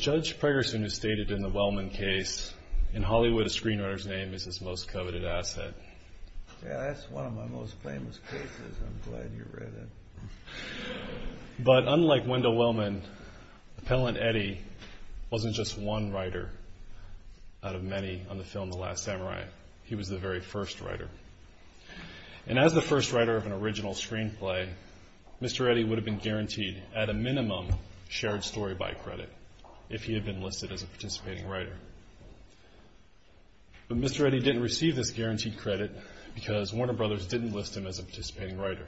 Judge Pregersen stated in the Wellman case, in Hollywood, a screenwriter's name is his most coveted asset. But unlike Wendell Wellman, Appellant Eddie wasn't just one writer out of many on the film The Last Samurai. He was the very first writer. And as the first writer of an original screenplay, Mr. Eddie would have been guaranteed, at a minimum, shared story by credit, if he had been listed as a participating writer. But Mr. Eddie didn't receive this guaranteed credit because Warner Brothers didn't list him as a participating writer.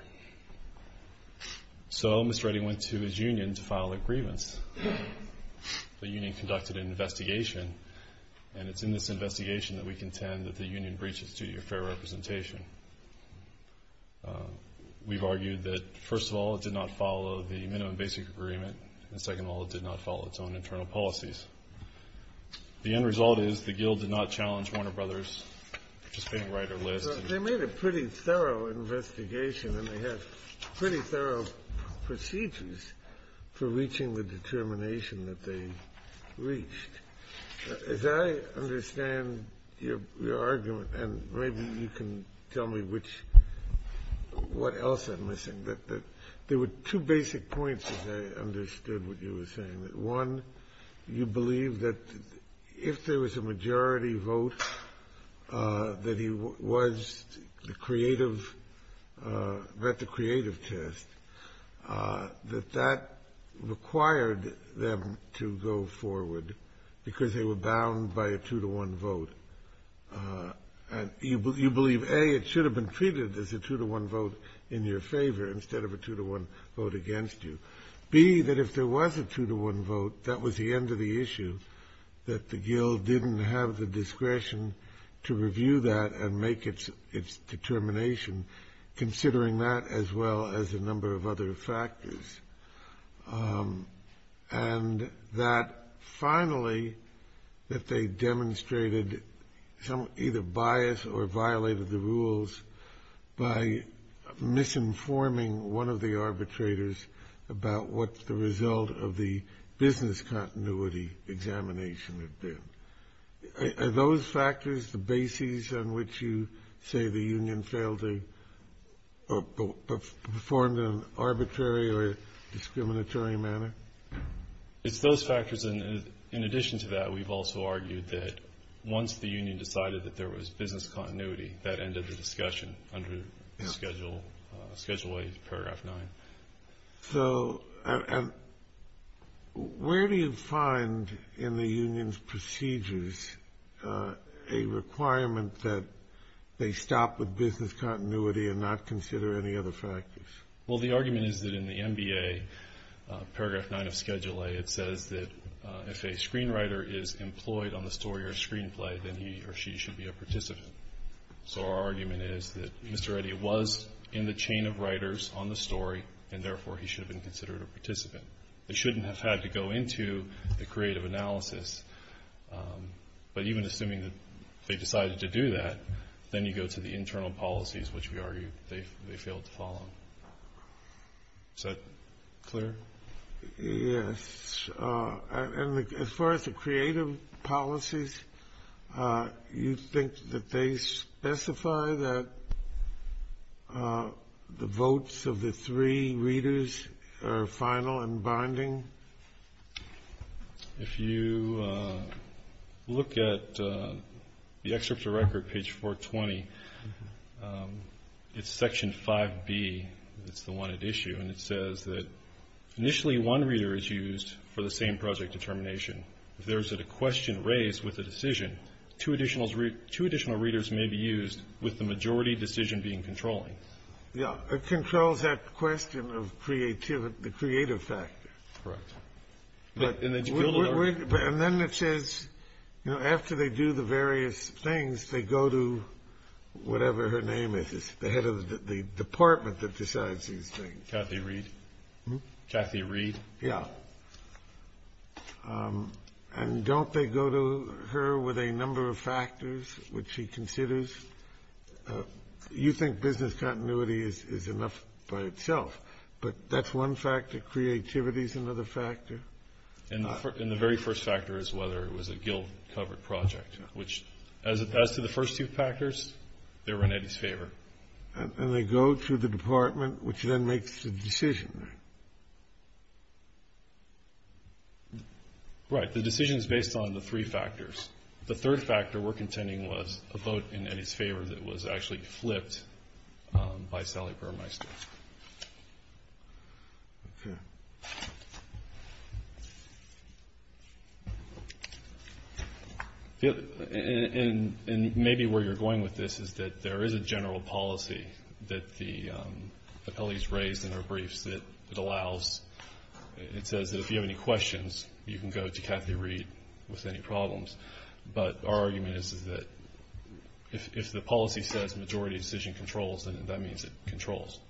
So Mr. Eddie went to his union to file a grievance. The union conducted an investigation, and it's in this investigation that we contend that the union breached its duty of fair representation. We've argued that, first of all, it did not follow the minimum basic agreement, and second of all, it did not follow its own internal policies. The end result is the guild did not challenge Warner Brothers participating writer list. They made a pretty thorough investigation, and they had pretty thorough procedures for reaching the determination that they reached. As I understand your argument, and maybe you can tell me what else I'm missing, there were two basic points, as I understood what you were saying. One, you believe that if there was a majority vote that he was at the creative test, that that required them to go forward because they were bound by a two-to-one vote. You believe, A, it should have been treated as a two-to-one vote in your favor instead of a two-to-one vote against you. B, that if there was a two-to-one vote, that was the end of the issue, that the guild didn't have the discretion to review that and make its determination, considering that as well as a number of other factors. And that finally, that they demonstrated either bias or violated the rules by misinforming one of the arbitrators about what the result of the business continuity examination had been. Are those factors the basis on which you say the union failed to perform in an arbitrary or discriminatory manner? It's those factors. And in addition to that, we've also argued that once the union decided that there was business continuity, that ended the discussion under Schedule 8, Paragraph 9. So where do you find in the union's procedures a requirement that they stop with business continuity and not consider any other factors? Well, the argument is that in the MBA, Paragraph 9 of Schedule 8, it says that if a screenwriter is employed on the story or screenplay, then he or she should be a participant. So our argument is that Mr. Eddy was in the chain of writers on the story, and therefore he should have been considered a participant. They shouldn't have had to go into the creative analysis. But even assuming that they decided to do that, then you go to the internal policies, which we argue they failed to follow. Is that clear? Yes. And as far as the creative policies, you think that they specify that the votes of the three readers are final and bonding? If you look at the excerpt of record, page 420, it's Section 5B. It's the one at issue, and it says that initially one reader is used for the same project determination. If there is a question raised with a decision, two additional readers may be used with the majority decision being controlling. Yeah, it controls that question of the creative factor. Correct. And then it says, you know, after they do the various things, they go to whatever her name is, the head of the department that decides these things. Kathy Reed. Kathy Reed? Yeah. And don't they go to her with a number of factors which she considers? You think business continuity is enough by itself, but that's one factor. Creativity is another factor. And the very first factor is whether it was a guild-covered project, which as to the first two factors, they were in Eddie's favor. And they go to the department, which then makes the decision. Right. The decision is based on the three factors. The third factor we're contending was a vote in Eddie's favor that was actually flipped by Sally Burmeister. Okay. And maybe where you're going with this is that there is a general policy that the appellees raised in their briefs that it allows, it says that if you have any questions, you can go to Kathy Reed with any problems. But our argument is that if the policy says majority decision controls, then that means it controls.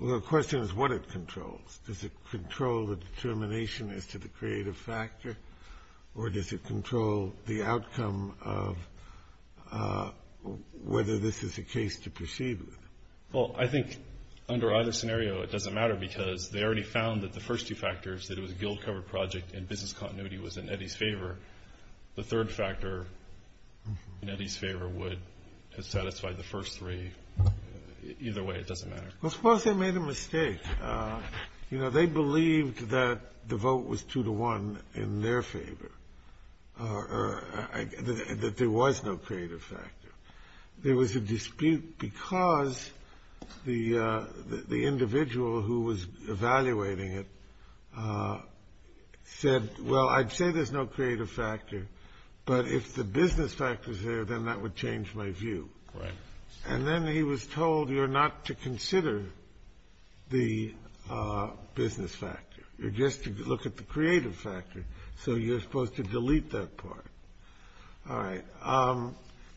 Well, the question is what it controls. Does it control the determination as to the creative factor? Or does it control the outcome of whether this is a case to proceed with? Well, I think under either scenario it doesn't matter because they already found that the first two factors, that it was a guild-covered project and business continuity was in Eddie's favor. The third factor in Eddie's favor would have satisfied the first three. Either way, it doesn't matter. Well, suppose they made a mistake. You know, they believed that the vote was 2-1 in their favor, that there was no creative factor. There was a dispute because the individual who was evaluating it said, well, I'd say there's no creative factor, but if the business factor's there, then that would change my view. Right. And then he was told, you're not to consider the business factor. You're just to look at the creative factor. So you're supposed to delete that part. All right.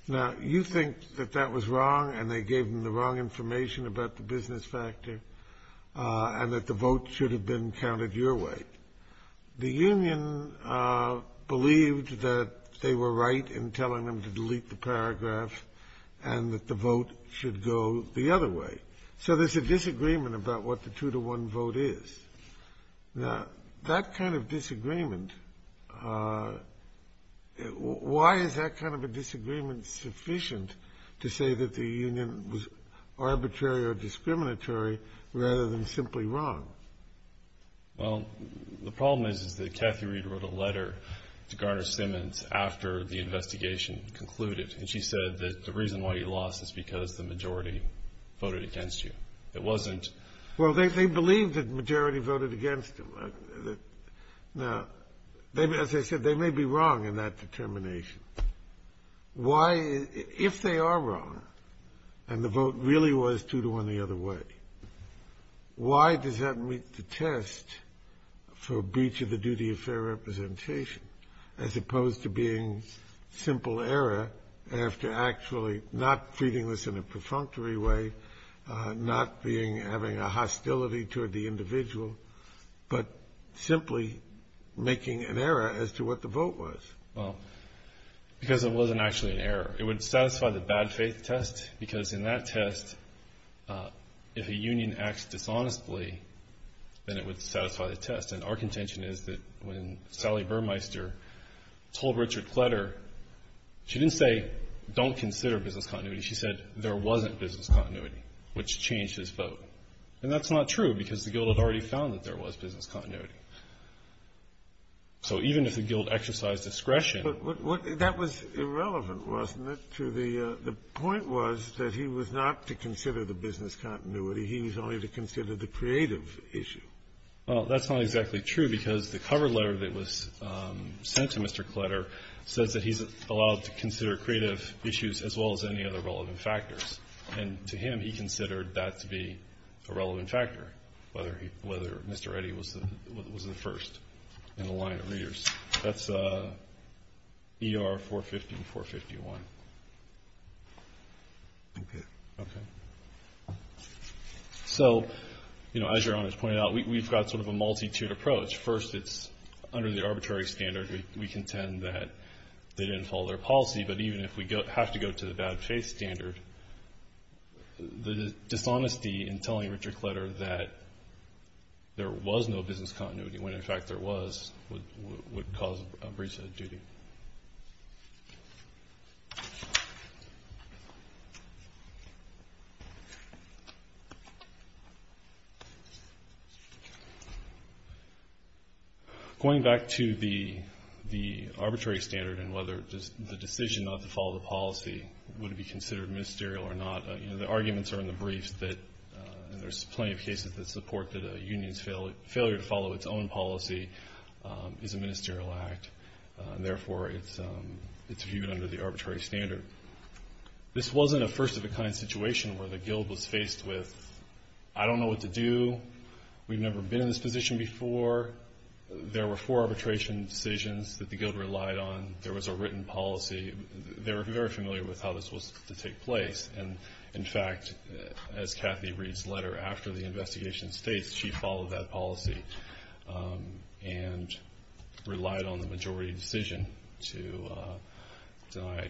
Now, you think that that was wrong and they gave them the wrong information about the business factor and that the vote should have been counted your way. The union believed that they were right in telling them to delete the paragraph and that the vote should go the other way. So there's a disagreement about what the 2-1 vote is. Now, that kind of disagreement, why is that kind of a disagreement sufficient to say that the union was arbitrary or discriminatory rather than simply wrong? Well, the problem is that Kathy Reed wrote a letter to Garner Simmons after the investigation concluded, and she said that the reason why you lost is because the majority voted against you. It wasn't. Well, they believed that the majority voted against them. Now, as I said, they may be wrong in that determination. Why, if they are wrong and the vote really was 2-1 the other way, why does that meet the test for breach of the duty of fair representation as opposed to being simple error after actually not treating this in a perfunctory way, not having a hostility toward the individual, but simply making an error as to what the vote was? Well, because it wasn't actually an error. It would satisfy the bad faith test, because in that test, if a union acts dishonestly, then it would satisfy the test. And our contention is that when Sally Burmeister told Richard Kletter, she didn't say don't consider business continuity. She said there wasn't business continuity, which changed his vote. And that's not true, because the guild had already found that there was business continuity. So even if the guild exercised discretion. But that was irrelevant, wasn't it? The point was that he was not to consider the business continuity. He was only to consider the creative issue. Well, that's not exactly true, because the cover letter that was sent to Mr. Kletter says that he's allowed to consider creative issues as well as any other relevant factors. And to him, he considered that to be a relevant factor, whether Mr. Eddy was the first in the line of readers. That's ER 450 and 451. Okay. Okay. So, you know, as Your Honor has pointed out, we've got sort of a multi-tiered approach. First, it's under the arbitrary standard. We contend that they didn't follow their policy. But even if we have to go to the bad faith standard, the dishonesty in telling Richard Kletter that there was no business continuity, when, in fact, there was, would cause a breach of duty. Going back to the arbitrary standard and whether the decision not to follow the policy would be considered ministerial or not, the arguments are in the briefs that there's plenty of cases that support that a union's failure to follow its own policy is a ministerial act. Therefore, it's viewed under the arbitrary standard. This wasn't a first-of-a-kind situation where the Guild was faced with, I don't know what to do. We've never been in this position before. There were four arbitration decisions that the Guild relied on. There was a written policy. They were very familiar with how this was to take place. And, in fact, as Kathy Reed's letter after the investigation states, she followed that policy and relied on the majority decision to deny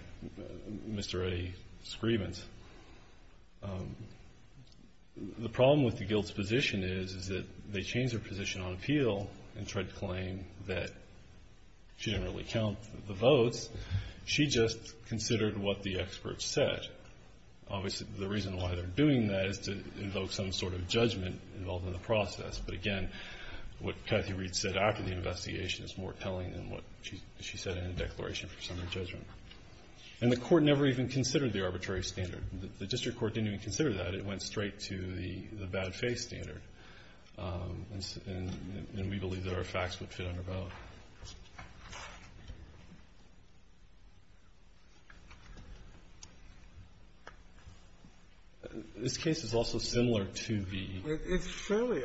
Mr. Reddy's grievance. The problem with the Guild's position is that they changed their position on appeal and tried to claim that she didn't really count the votes. She just considered what the experts said. Obviously, the reason why they're doing that is to invoke some sort of judgment involved in the process. But, again, what Kathy Reed said after the investigation is more telling than what she said in the declaration for summary judgment. And the Court never even considered the arbitrary standard. The district court didn't even consider that. It went straight to the bad-faith standard. And we believe there are facts which fit under both. This case is also similar to the ---- It's fairly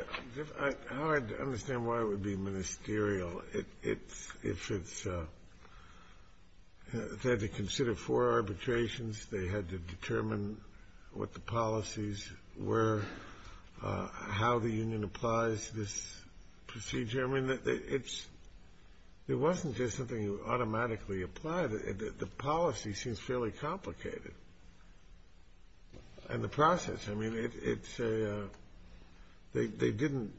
hard to understand why it would be ministerial if it's ---- if they had to consider four arbitrations, they had to determine what the policies were, how the union applies this procedure. I mean, it's ---- there wasn't just something automatically applied. The policy seems fairly complicated. And the process, I mean, it's a ---- they didn't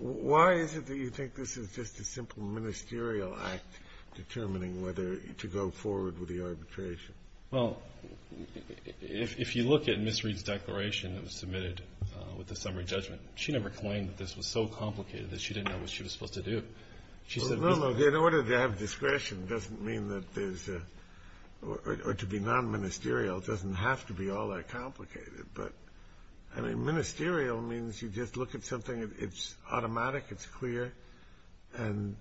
---- why is it that you think this is just a simple ministerial act determining whether to go forward with the arbitration? Well, if you look at Ms. Reed's declaration that was submitted with the summary judgment, she never claimed that this was so complicated that she didn't know what she was supposed to do. She said ---- No, no, in order to have discretion doesn't mean that there's a ---- or to be non-ministerial doesn't have to be all that complicated. But, I mean, ministerial means you just look at something, it's automatic, it's clear. And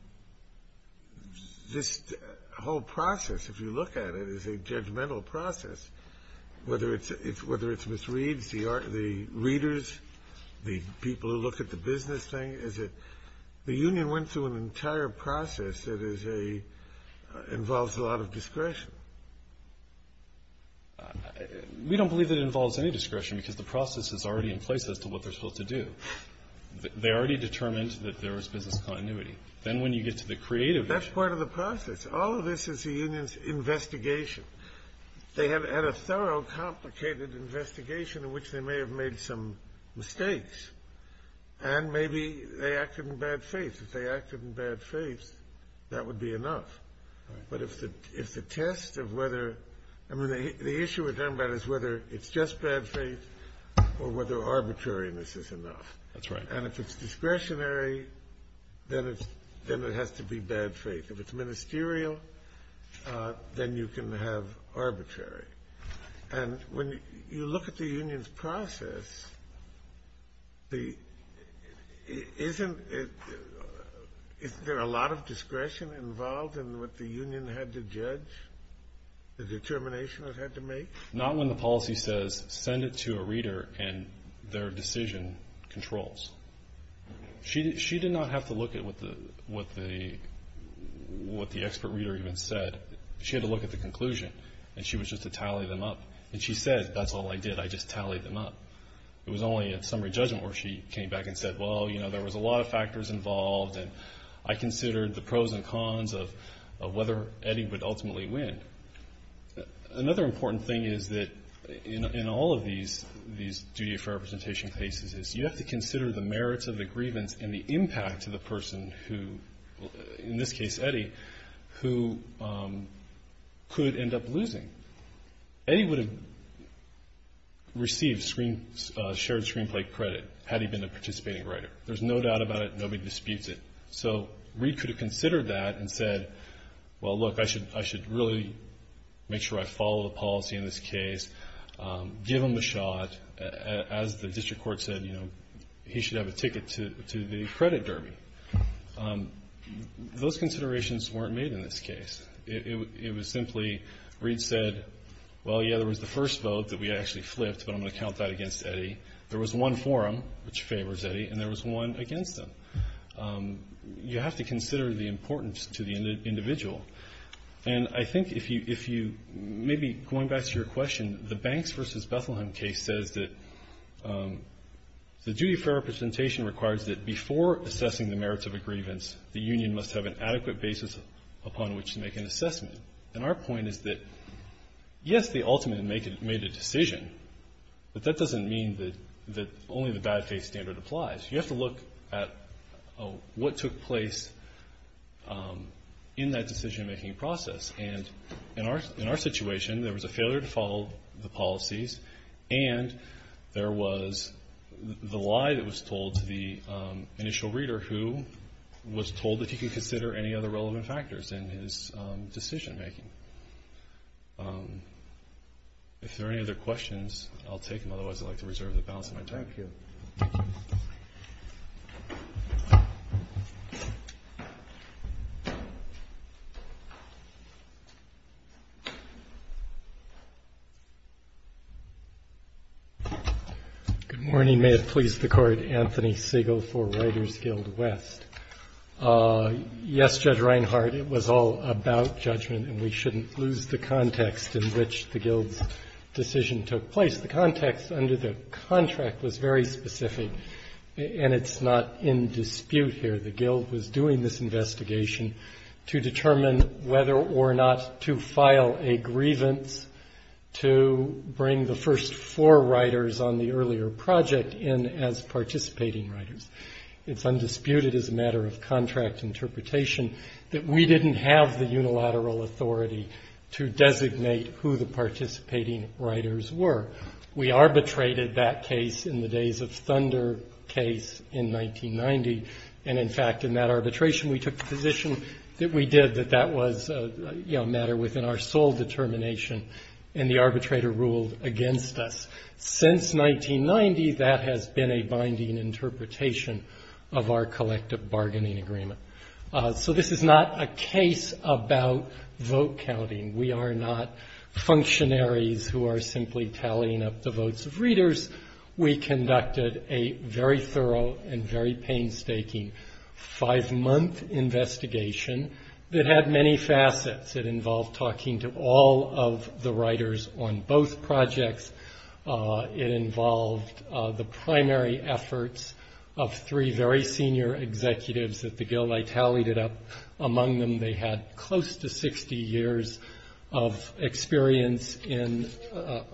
this whole process, if you look at it, is a judgmental process. Whether it's Ms. Reed's, the readers, the people who look at the business thing, is it ---- the union went through an entire process that is a ---- involves a lot of discretion. We don't believe it involves any discretion because the process is already in place as to what they're supposed to do. They already determined that there was business continuity. Then when you get to the creative ---- That's part of the process. All of this is the union's investigation. They had a thorough, complicated investigation in which they may have made some mistakes. And maybe they acted in bad faith. If they acted in bad faith, that would be enough. But if the test of whether ---- I mean, the issue we're talking about is whether it's just bad faith or whether arbitrariness is enough. That's right. And if it's discretionary, then it has to be bad faith. If it's ministerial, then you can have arbitrary. And when you look at the union's process, isn't it ---- isn't there a lot of discretion involved in what the union had to judge, the determination it had to make? Not when the policy says send it to a reader and their decision controls. She did not have to look at what the expert reader even said. She had to look at the conclusion. And she was just to tally them up. And she said, that's all I did, I just tallied them up. It was only in summary judgment where she came back and said, well, you know, there was a lot of factors involved, and I considered the pros and cons of whether Eddie would ultimately win. Another important thing is that in all of these duty of fair representation cases is you have to consider the merits of the grievance and the impact to the person who, in this case Eddie, who could end up losing. Eddie would have received shared screenplay credit had he been a participating writer. There's no doubt about it. Nobody disputes it. So Reed could have considered that and said, well, look, I should really make sure I follow the policy in this case, give him the shot. As the district court said, you know, he should have a ticket to the credit derby. Those considerations weren't made in this case. It was simply Reed said, well, yeah, there was the first vote that we actually flipped, but I'm going to count that against Eddie. There was one for him, which favors Eddie, and there was one against him. You have to consider the importance to the individual. And I think if you maybe going back to your question, the Banks v. Bethlehem case says that the duty of fair representation requires that before assessing the merits of a grievance, the union must have an adequate basis upon which to make an assessment. And our point is that, yes, the ultimate made a decision, but that doesn't mean that only the bad faith standard applies. You have to look at what took place in that decision-making process. And in our situation, there was a failure to follow the policies, and there was the lie that was told to the initial reader who was told that he could consider any other relevant factors in his decision-making. If there are any other questions, I'll take them. Otherwise, I'd like to reserve the balance of my time. Thank you. Good morning. May it please the Court, Anthony Siegel for Writers Guild West. Yes, Judge Reinhardt, it was all about judgment, and we shouldn't lose the context in which the Guild's decision took place. The context under the contract was very specific, and it's not in dispute here. The Guild was doing this investigation to determine whether or not to file a grievance to bring the first four writers on the earlier project in as participating writers. It's undisputed as a matter of contract interpretation that we didn't have the unilateral authority to designate who the participating writers were. We arbitrated that case in the Days of Thunder case in 1990, and in fact in that arbitration we took the position that we did, that that was a matter within our sole determination, and the arbitrator ruled against us. Since 1990, that has been a binding interpretation of our collective bargaining agreement. So this is not a case about vote counting. We are not functionaries who are simply tallying up the votes of readers. We conducted a very thorough and very painstaking five-month investigation that had many facets. It involved talking to all of the writers on both projects. It involved the primary efforts of three very senior executives at the Guild. I tallied it up. Among them, they had close to 60 years of experience in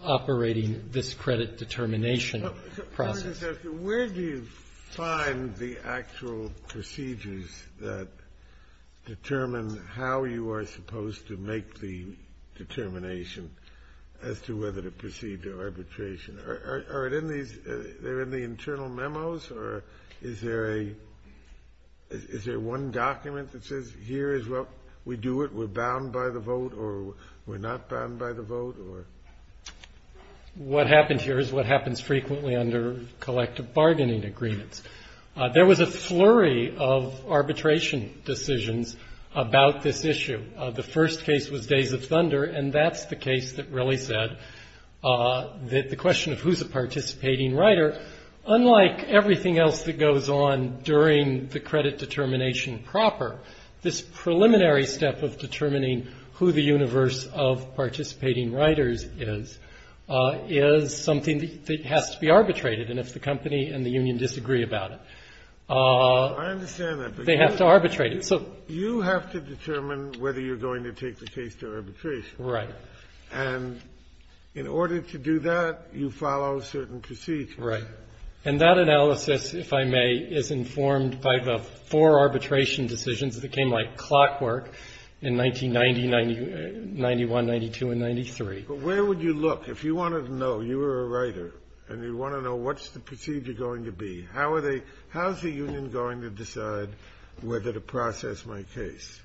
operating this credit determination process. Where do you find the actual procedures that determine how you are supposed to make the determination as to whether to proceed to arbitration? Are they in the internal memos, or is there a one document that says here is what we do, we're bound by the vote, or we're not bound by the vote, or? What happened here is what happens frequently under collective bargaining agreements. There was a flurry of arbitration decisions about this issue. The first case was Days of Thunder, and that's the case that really said that the question of who's a participating writer, unlike everything else that goes on during the credit determination proper, this preliminary step of determining who the universe of participating writers is, is something that has to be arbitrated. And if the company and the union disagree about it, they have to arbitrate it. You have to determine whether you're going to take the case to arbitration. Right. And in order to do that, you follow certain procedures. Right. And that analysis, if I may, is informed by the four arbitration decisions that came like clockwork in 1990, 91, 92, and 93. But where would you look? If you wanted to know, you were a writer, and you want to know what's the procedure going to be, how are they – how's the union going to decide whether to process my case?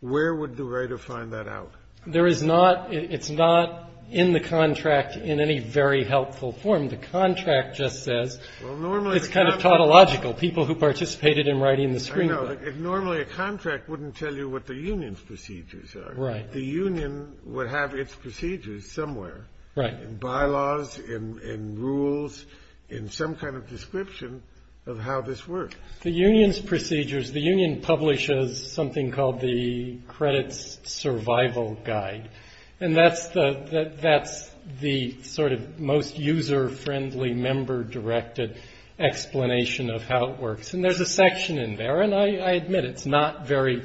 Where would the writer find that out? There is not – it's not in the contract in any very helpful form. The contract just says it's kind of tautological, people who participated in writing the screenplay. I know. Normally a contract wouldn't tell you what the union's procedures are. Right. The union would have its procedures somewhere. Right. In bylaws, in rules, in some kind of description of how this works. The union's procedures – the union publishes something called the credits survival guide, and that's the sort of most user-friendly, member-directed explanation of how it works. And there's a section in there, and I admit it's not very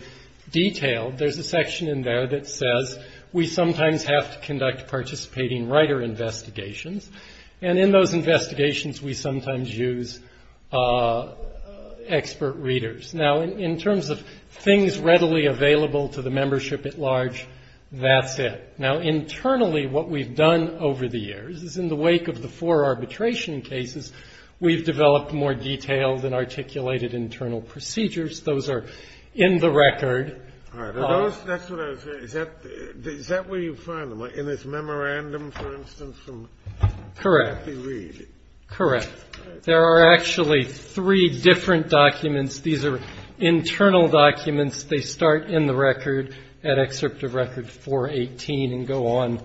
detailed. There's a section in there that says we sometimes have to conduct participating writer investigations, and in those investigations we sometimes use expert readers. Now, in terms of things readily available to the membership at large, that's it. Now, internally what we've done over the years is in the wake of the four arbitration cases, we've developed more detailed and articulated internal procedures. Those are in the record. All right. Are those – that's what I was – is that where you find them? In this memorandum, for instance, from Murphy Reed? Correct. Correct. There are actually three different documents. These are internal documents. They start in the record at excerpt of record 418 and go on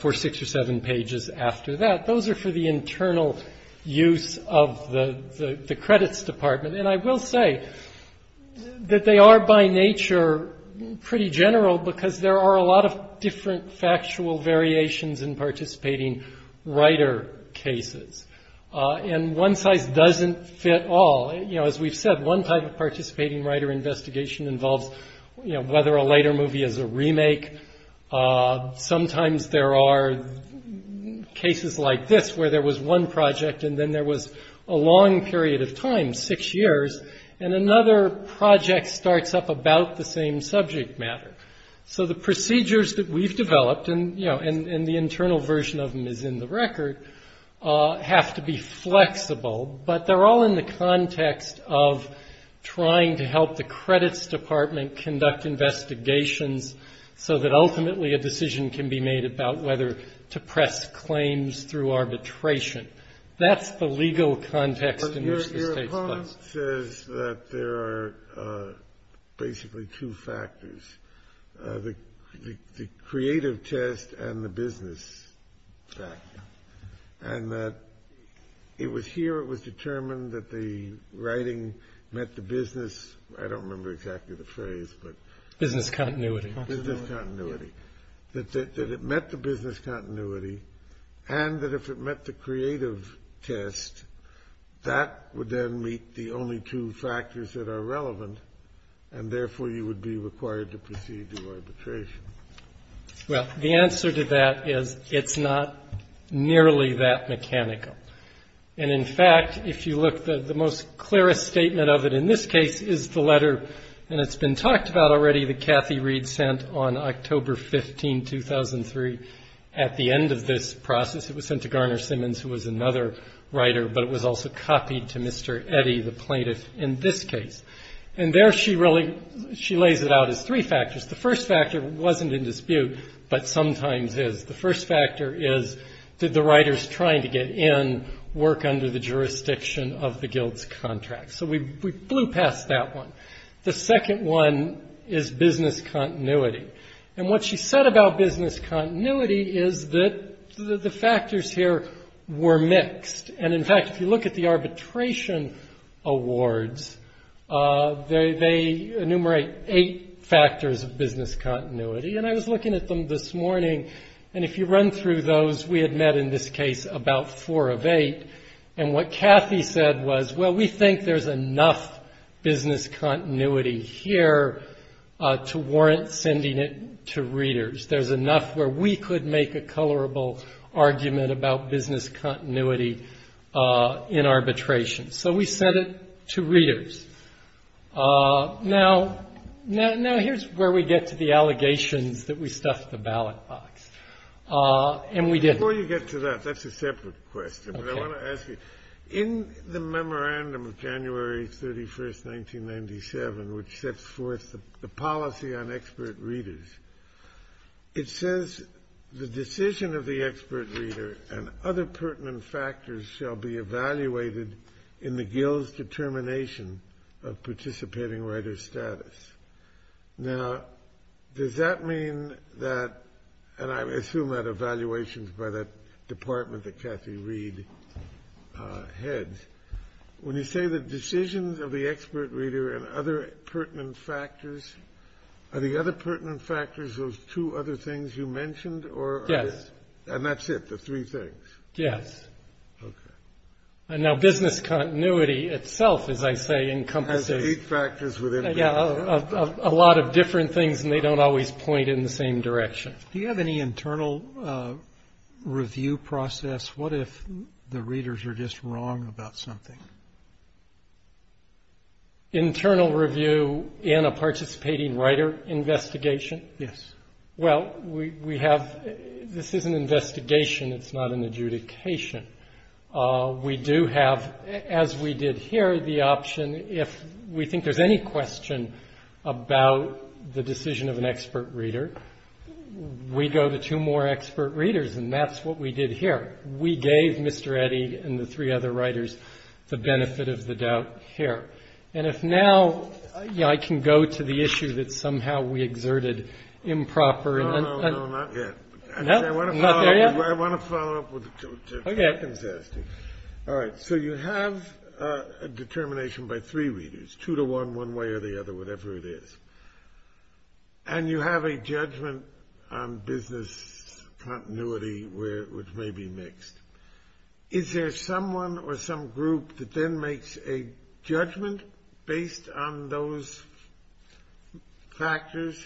for six or seven pages after that. Those are for the internal use of the credits department, and I will say that they are by nature pretty general because there are a lot of different factual variations in participating writer cases, and one size doesn't fit all. You know, as we've said, one type of participating writer investigation involves, you know, whether a later movie is a remake. Sometimes there are cases like this where there was one project and then there was a long period of time, six years, and another project starts up about the same subject matter. So the procedures that we've developed, and, you know, and the internal version of them is in the record, have to be flexible, but they're all in the context of trying to help the credits department conduct investigations so that ultimately a decision can be made about whether to press claims through arbitration. That's the legal context in which the State's placed. Your comment says that there are basically two factors, the creative test and the business factor, and that it was here it was determined that the writing met the business, I don't remember exactly the phrase, but... Business continuity. Business continuity. That it met the business continuity and that if it met the creative test, that would then meet the only two factors that are relevant, and therefore you would be required to proceed to arbitration. Well, the answer to that is it's not nearly that mechanical. And, in fact, if you look, the most clearest statement of it in this case is the letter, and it's been talked about already, that Kathy Reed sent on October 15, 2003. At the end of this process, it was sent to Garner Simmons, who was another writer, but it was also copied to Mr. Eddy, the plaintiff, in this case. And there she really, she lays it out as three factors. The first factor wasn't in dispute, but sometimes is. The first factor is did the writers trying to get in work under the jurisdiction of the guild's contract? So we blew past that one. The second one is business continuity. And what she said about business continuity is that the factors here were mixed. And, in fact, if you look at the arbitration awards, they enumerate eight factors of business continuity. And I was looking at them this morning, and if you run through those, we had met in this case about four of eight. And what Kathy said was, well, we think there's enough business continuity here to warrant sending it to readers. There's enough where we could make a colorable argument about business continuity in arbitration. So we sent it to readers. Now, here's where we get to the allegations that we stuffed the ballot box, and we didn't. Before you get to that, that's a separate question. But I want to ask you, in the memorandum of January 31st, 1997, which sets forth the policy on expert readers, it says the decision of the expert reader and other pertinent factors shall be evaluated in the guild's determination of participating writer status. Now, does that mean that, and I assume that evaluations by that department that Kathy Reed heads, when you say the decisions of the expert reader and other pertinent factors, are the other pertinent factors those two other things you mentioned? Yes. And that's it, the three things? Yes. Okay. And now business continuity itself, as I say, encompasses... A lot of different things, and they don't always point in the same direction. Do you have any internal review process? What if the readers are just wrong about something? Internal review in a participating writer investigation? Yes. Well, we have this is an investigation. It's not an adjudication. We do have, as we did here, the option if we think there's any question about the decision of an expert reader, we go to two more expert readers, and that's what we did here. We gave Mr. Eddy and the three other writers the benefit of the doubt here. And if now I can go to the issue that somehow we exerted improper... No, no, no, not yet. No? Not there yet? I want to follow up with what Tompkins is asking. All right. So you have a determination by three readers, two to one, one way or the other, whatever it is, and you have a judgment on business continuity which may be mixed. Is there someone or some group that then makes a judgment based on those factors?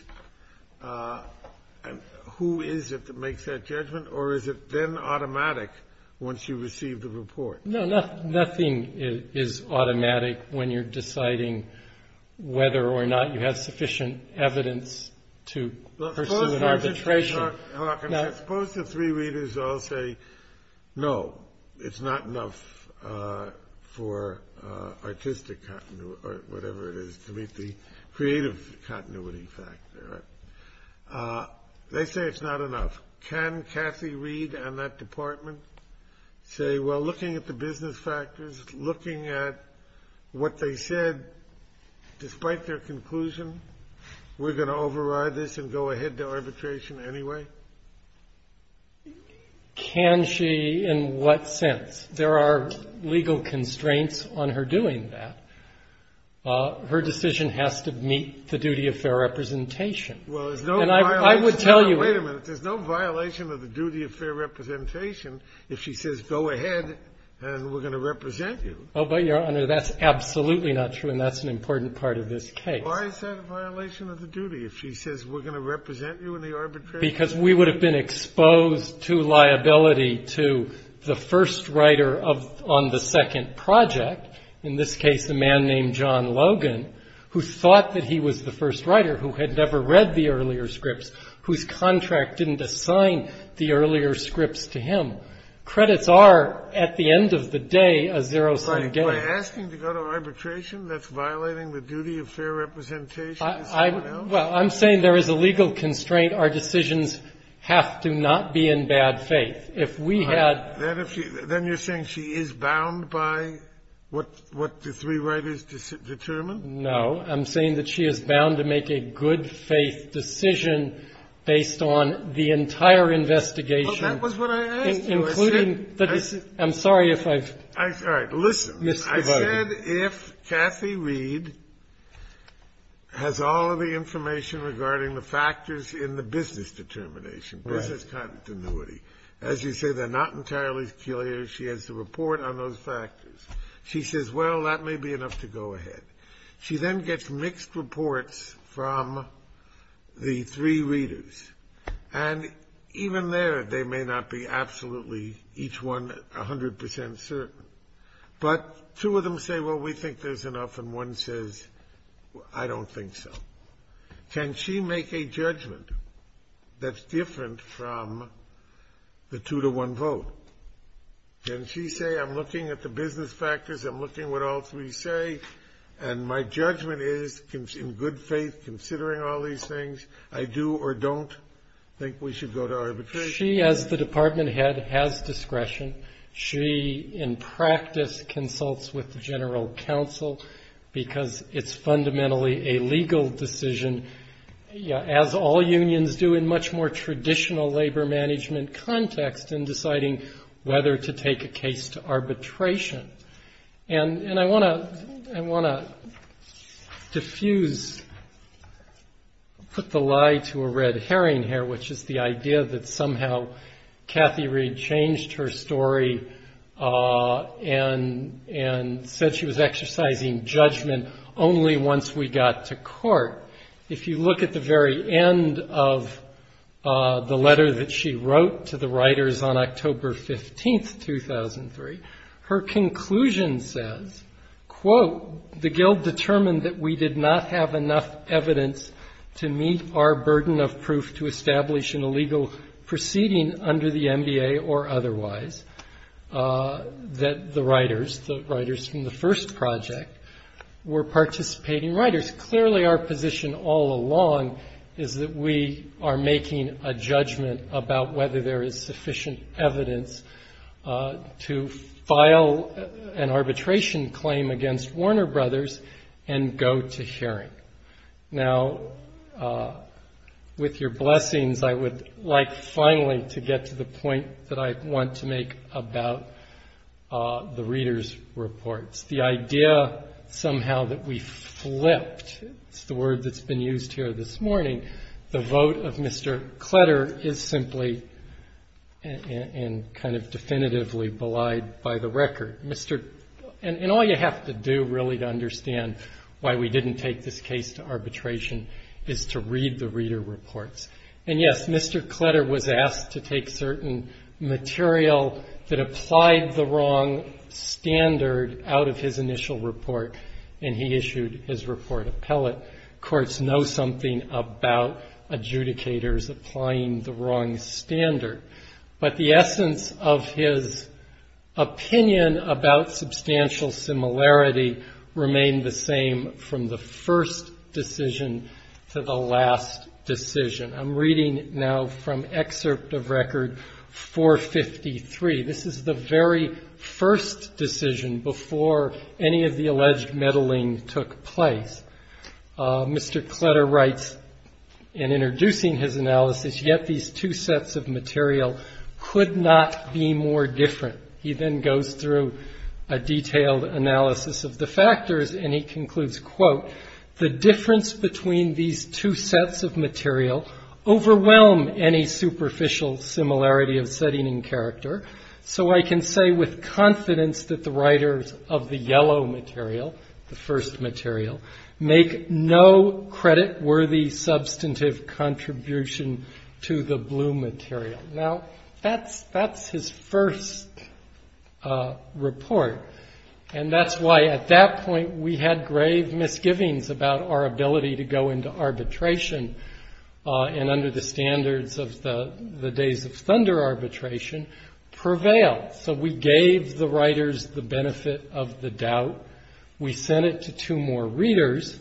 Who is it that makes that judgment? Or is it then automatic once you receive the report? No, nothing is automatic when you're deciding whether or not you have sufficient evidence to pursue an arbitration. Suppose the three readers all say, no, it's not enough for artistic continuity or whatever it is to meet the creative continuity factor. They say it's not enough. Can Kathy Reed and that department say, well, looking at the business factors, looking at what they said despite their conclusion, we're going to override this and go ahead to arbitration anyway? Can she in what sense? There are legal constraints on her doing that. Her decision has to meet the duty of fair representation. Well, there's no violation. And I would tell you... Wait a minute. There's no violation of the duty of fair representation if she says go ahead and we're going to represent you. Oh, but, Your Honor, that's absolutely not true, and that's an important part of this case. Why is that a violation of the duty if she says we're going to represent you in the arbitration? Because we would have been exposed to liability to the first writer on the second project, in this case a man named John Logan, who thought that he was the first writer, who had never read the earlier scripts, whose contract didn't assign the earlier scripts to him. Credits are, at the end of the day, a zero-sum game. By asking to go to arbitration, that's violating the duty of fair representation? Well, I'm saying there is a legal constraint. Our decisions have to not be in bad faith. If we had... Then you're saying she is bound by what the three writers determined? No. I'm saying that she is bound to make a good-faith decision based on the entire investigation. Well, that was what I asked you. I said... I'm sorry if I've... All right, listen. I said if Kathy Reed has all of the information regarding the factors in the business determination, business continuity, as you say, they're not entirely clear. She has to report on those factors. She says, well, that may be enough to go ahead. She then gets mixed reports from the three readers, and even there, they may not be absolutely, each one 100% certain. But two of them say, well, we think there's enough, and one says, I don't think so. Can she make a judgment that's different from the two-to-one vote? Can she say, I'm looking at the business factors, I'm looking at what all three say, and my judgment is, in good faith, considering all these things, I do or don't think we should go to arbitration? She, as the department head, has discretion. She, in practice, consults with the general counsel because it's fundamentally a legal decision, as all unions do in much more traditional labor management context in deciding whether to take a case to arbitration. And I want to diffuse, put the lie to a red herring here, which is the idea that somehow Kathy Reed changed her story and said she was exercising judgment only once we got to court. If you look at the very end of the letter that she wrote to the writers on October 15, 2003, her conclusion says, quote, the guild determined that we did not have enough evidence to meet our burden of proof to establish an illegal proceeding under the MBA or otherwise, that the writers, the writers from the first project, were participating writers. Clearly, our position all along is that we are making a judgment about whether there is sufficient evidence to file an arbitration claim against Warner Brothers and go to hearing. Now, with your blessings, I would like finally to get to the point that I want to make about the readers' reports. The idea somehow that we flipped, it's the word that's been used here this morning, the vote of Mr. Kletter is simply and kind of definitively belied by the record. And all you have to do really to understand why we didn't take this case to arbitration is to read the reader reports. And, yes, Mr. Kletter was asked to take certain material that applied the wrong standard out of his initial report, and he issued his report appellate. Courts know something about adjudicators applying the wrong standard. But the essence of his opinion about substantial similarity remained the same from the first decision to the last decision. I'm reading now from excerpt of record 453. This is the very first decision before any of the alleged meddling took place. Mr. Kletter writes in introducing his analysis, yet these two sets of material could not be more different. He then goes through a detailed analysis of the factors, and he concludes, quote, the difference between these two sets of material overwhelm any superficial similarity of setting and character. So I can say with confidence that the writers of the yellow material, the first material, make no credit worthy substantive contribution to the blue material. Now, that's his first report. And that's why at that point we had grave misgivings about our ability to go into arbitration and under the standards of the days of thunder arbitration prevail. So we gave the writers the benefit of the doubt. We sent it to two more readers.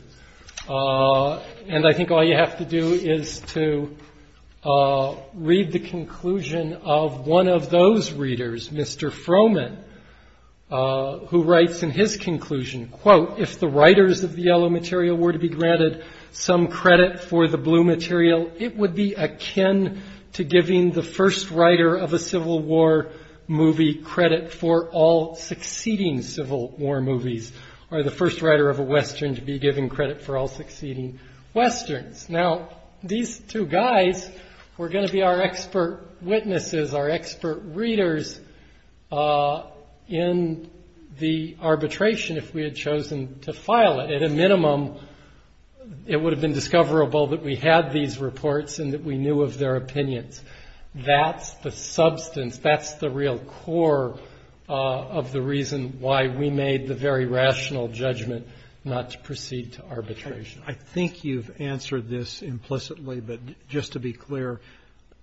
And I think all you have to do is to read the conclusion of one of those readers, Mr. Frohman, who writes in his conclusion, quote, if the writers of the yellow material were to be granted some credit for the blue material, it would be akin to giving the first writer of a Civil War movie credit for all succeeding Civil War movies, or the first writer of a Western to be given credit for all succeeding Westerns. Now, these two guys were going to be our expert witnesses, our expert readers, in the arbitration if we had chosen to file it. At a minimum, it would have been discoverable that we had these reports and that we knew of their opinions. That's the substance, that's the real core of the reason why we made the very rational judgment not to proceed to arbitration. I think you've answered this implicitly, but just to be clear,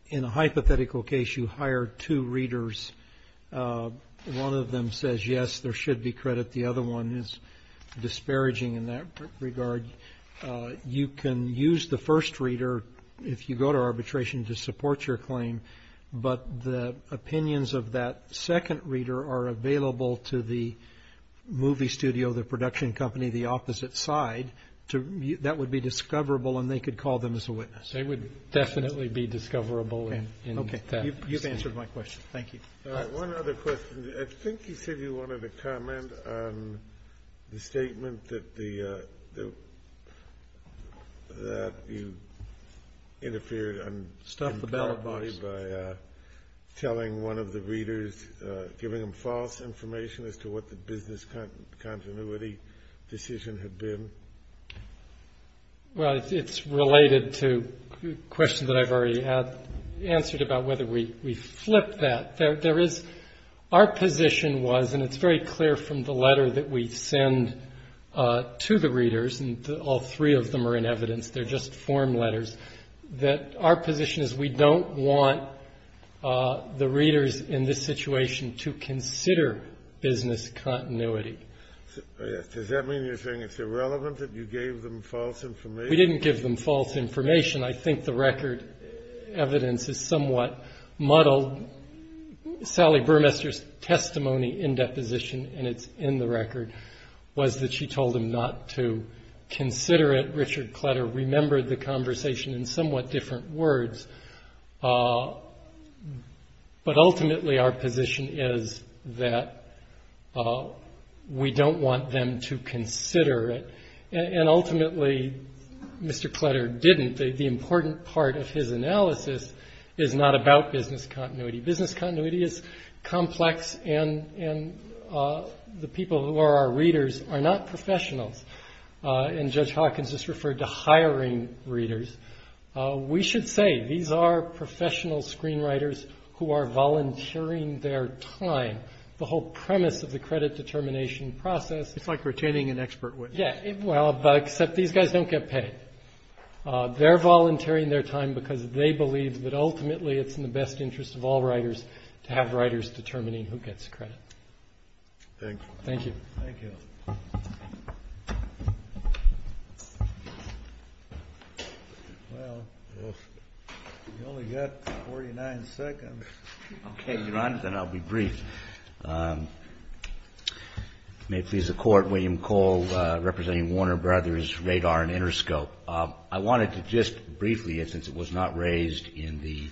in a hypothetical case, you hire two readers. One of them says, yes, there should be credit. The other one is disparaging in that regard. You can use the first reader, if you go to arbitration, to support your claim, but the opinions of that second reader are available to the movie studio, the production company, the opposite side. That would be discoverable, and they could call them as a witness. They would definitely be discoverable in that. You've answered my question, thank you. One other question. I think you said you wanted to comment on the statement that you interfered by telling one of the readers, giving them false information as to what the business continuity decision had been. Well, it's related to a question that I've already answered about whether we flip that. Our position was, and it's very clear from the letter that we send to the readers, and all three of them are in evidence, they're just form letters, that our position is we don't want the readers in this situation to consider business continuity. Does that mean you're saying it's irrelevant that you gave them false information? We didn't give them false information. I think the record evidence is somewhat muddled. Sally Burmester's testimony in deposition, and it's in the record, was that she told him not to consider it. It's a different position in somewhat different words, but ultimately our position is that we don't want them to consider it. And ultimately, Mr. Kletter didn't. The important part of his analysis is not about business continuity. Business continuity is complex, and the people who are our readers are not professionals. And Judge Hawkins just referred to hiring readers. We should say these are professional screenwriters who are volunteering their time. The whole premise of the credit determination process... Yeah, well, except these guys don't get paid. They're volunteering their time because they believe that ultimately it's in the best interest of all writers to have writers determining who gets credit. Thank you. Well, we've only got 49 seconds. Okay, Your Honor, then I'll be brief. May it please the Court, William Cole representing Warner Brothers Radar and Interscope. I wanted to just briefly, since it was not raised in the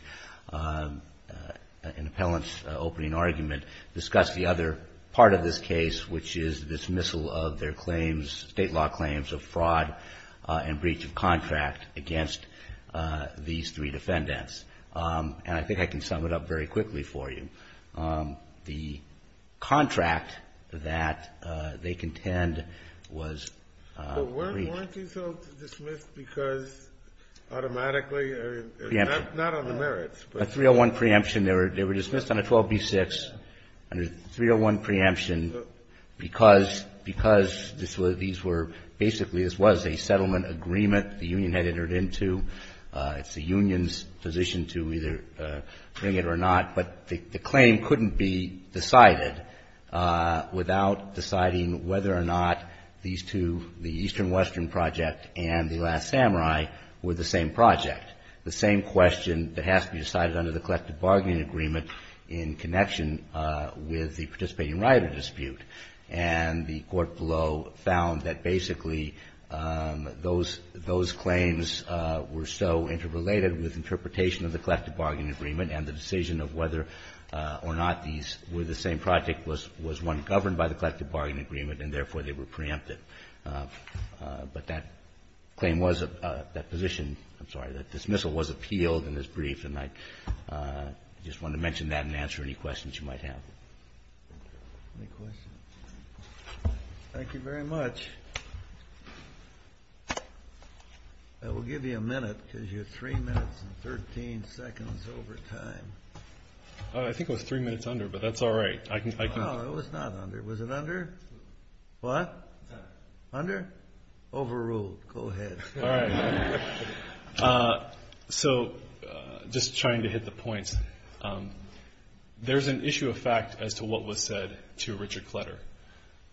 appellant's opening argument, discuss the other part of this case, which is dismissal of their claims, State law claims, of fraud and breach of contract against these three defendants. And I think I can sum it up very quickly for you. The contract that they contend was breach. Weren't these all dismissed because automatically or not on the merits? A 301 preemption. They were dismissed on a 12B6 under 301 preemption because these were basically, this was a settlement agreement the union had entered into. It's the union's position to either bring it or not. But the claim couldn't be decided without deciding whether or not these two, the Eastern Western Project and the Last Samurai were the same project, the same question that has to be decided under the collective bargaining agreement in connection with the participating rider dispute. And the court below found that basically those claims were so interrelated with interpretation of the collective bargaining agreement and the decision of whether or not these were the same project was one governed by the collective bargaining agreement and therefore they were preemptive. But that claim was, that position, I'm sorry, that dismissal was appealed and is briefed. And I just wanted to mention that and answer any questions you might have. Any questions? Thank you very much. I will give you a minute because you're 3 minutes and 13 seconds over time. I think it was 3 minutes under, but that's all right. No, it was not under. Was it under? What? Under? Overruled. Go ahead. All right. So just trying to hit the points. There's an issue of fact as to what was said to Richard Kletter.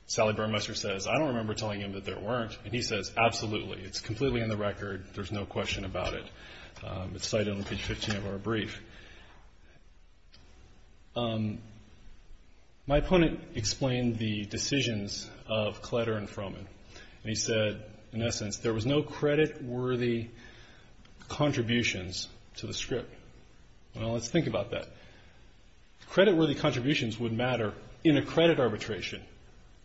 Sally Burmester says, I don't remember telling him that there weren't. And he says, absolutely. It's completely on the record. There's no question about it. It's cited on page 15 of our brief. My opponent explained the decisions of Kletter and Froman. And he said, in essence, there was no credit-worthy contributions to the script. Well, let's think about that. Credit-worthy contributions would matter in a credit arbitration.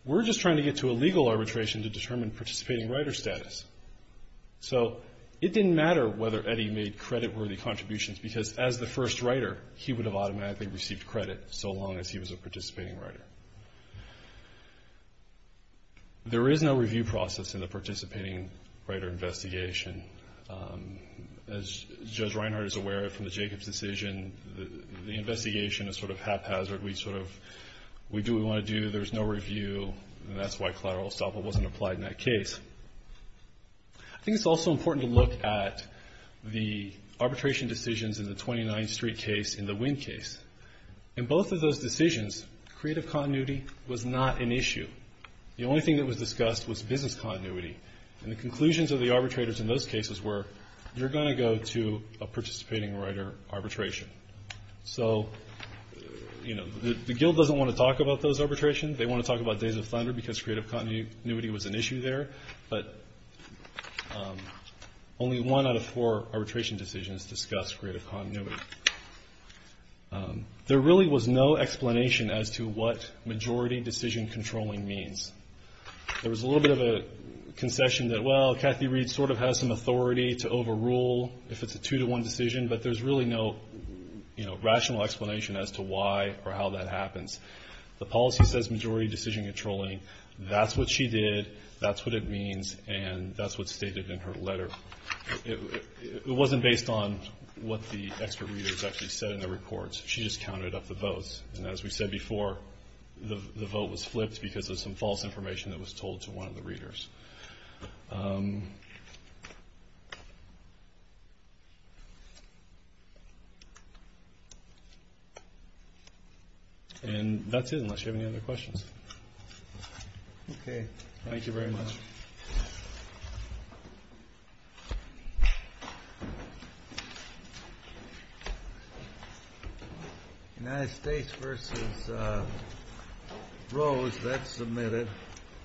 We're just trying to get to a legal arbitration to determine participating writer status. So it didn't matter whether Eddie made credit-worthy contributions, because as the first writer, he would have automatically received credit so long as he was a participating writer. There is no review process in the participating writer investigation. As Judge Reinhart is aware of from the Jacobs decision, the investigation is sort of haphazard. We sort of do what we want to do. There's no review. And that's why collateral estoppel wasn't applied in that case. I think it's also important to look at the arbitration decisions in the 29th Street case and the Winn case. In both of those decisions, creative continuity was not an issue. The only thing that was discussed was business continuity. And the conclusions of the arbitrators in those cases were, you're going to go to a participating writer arbitration. So, you know, the guild doesn't want to talk about those arbitrations. They want to talk about Days of Thunder because creative continuity was an issue there. But only one out of four arbitration decisions discussed creative continuity. There really was no explanation as to what majority decision controlling means. There was a little bit of a concession that, well, Kathy Reed sort of has some authority to overrule if it's a two-to-one decision, but there's really no rational explanation as to why or how that happens. The policy says majority decision controlling. That's what she did. That's what it means. And that's what's stated in her letter. It wasn't based on what the expert readers actually said in the reports. She just counted up the votes. And as we said before, the vote was flipped because of some false information that was told to one of the readers. And that's it, unless you have any other questions. Okay. Thank you very much. United States versus Rose. That's submitted.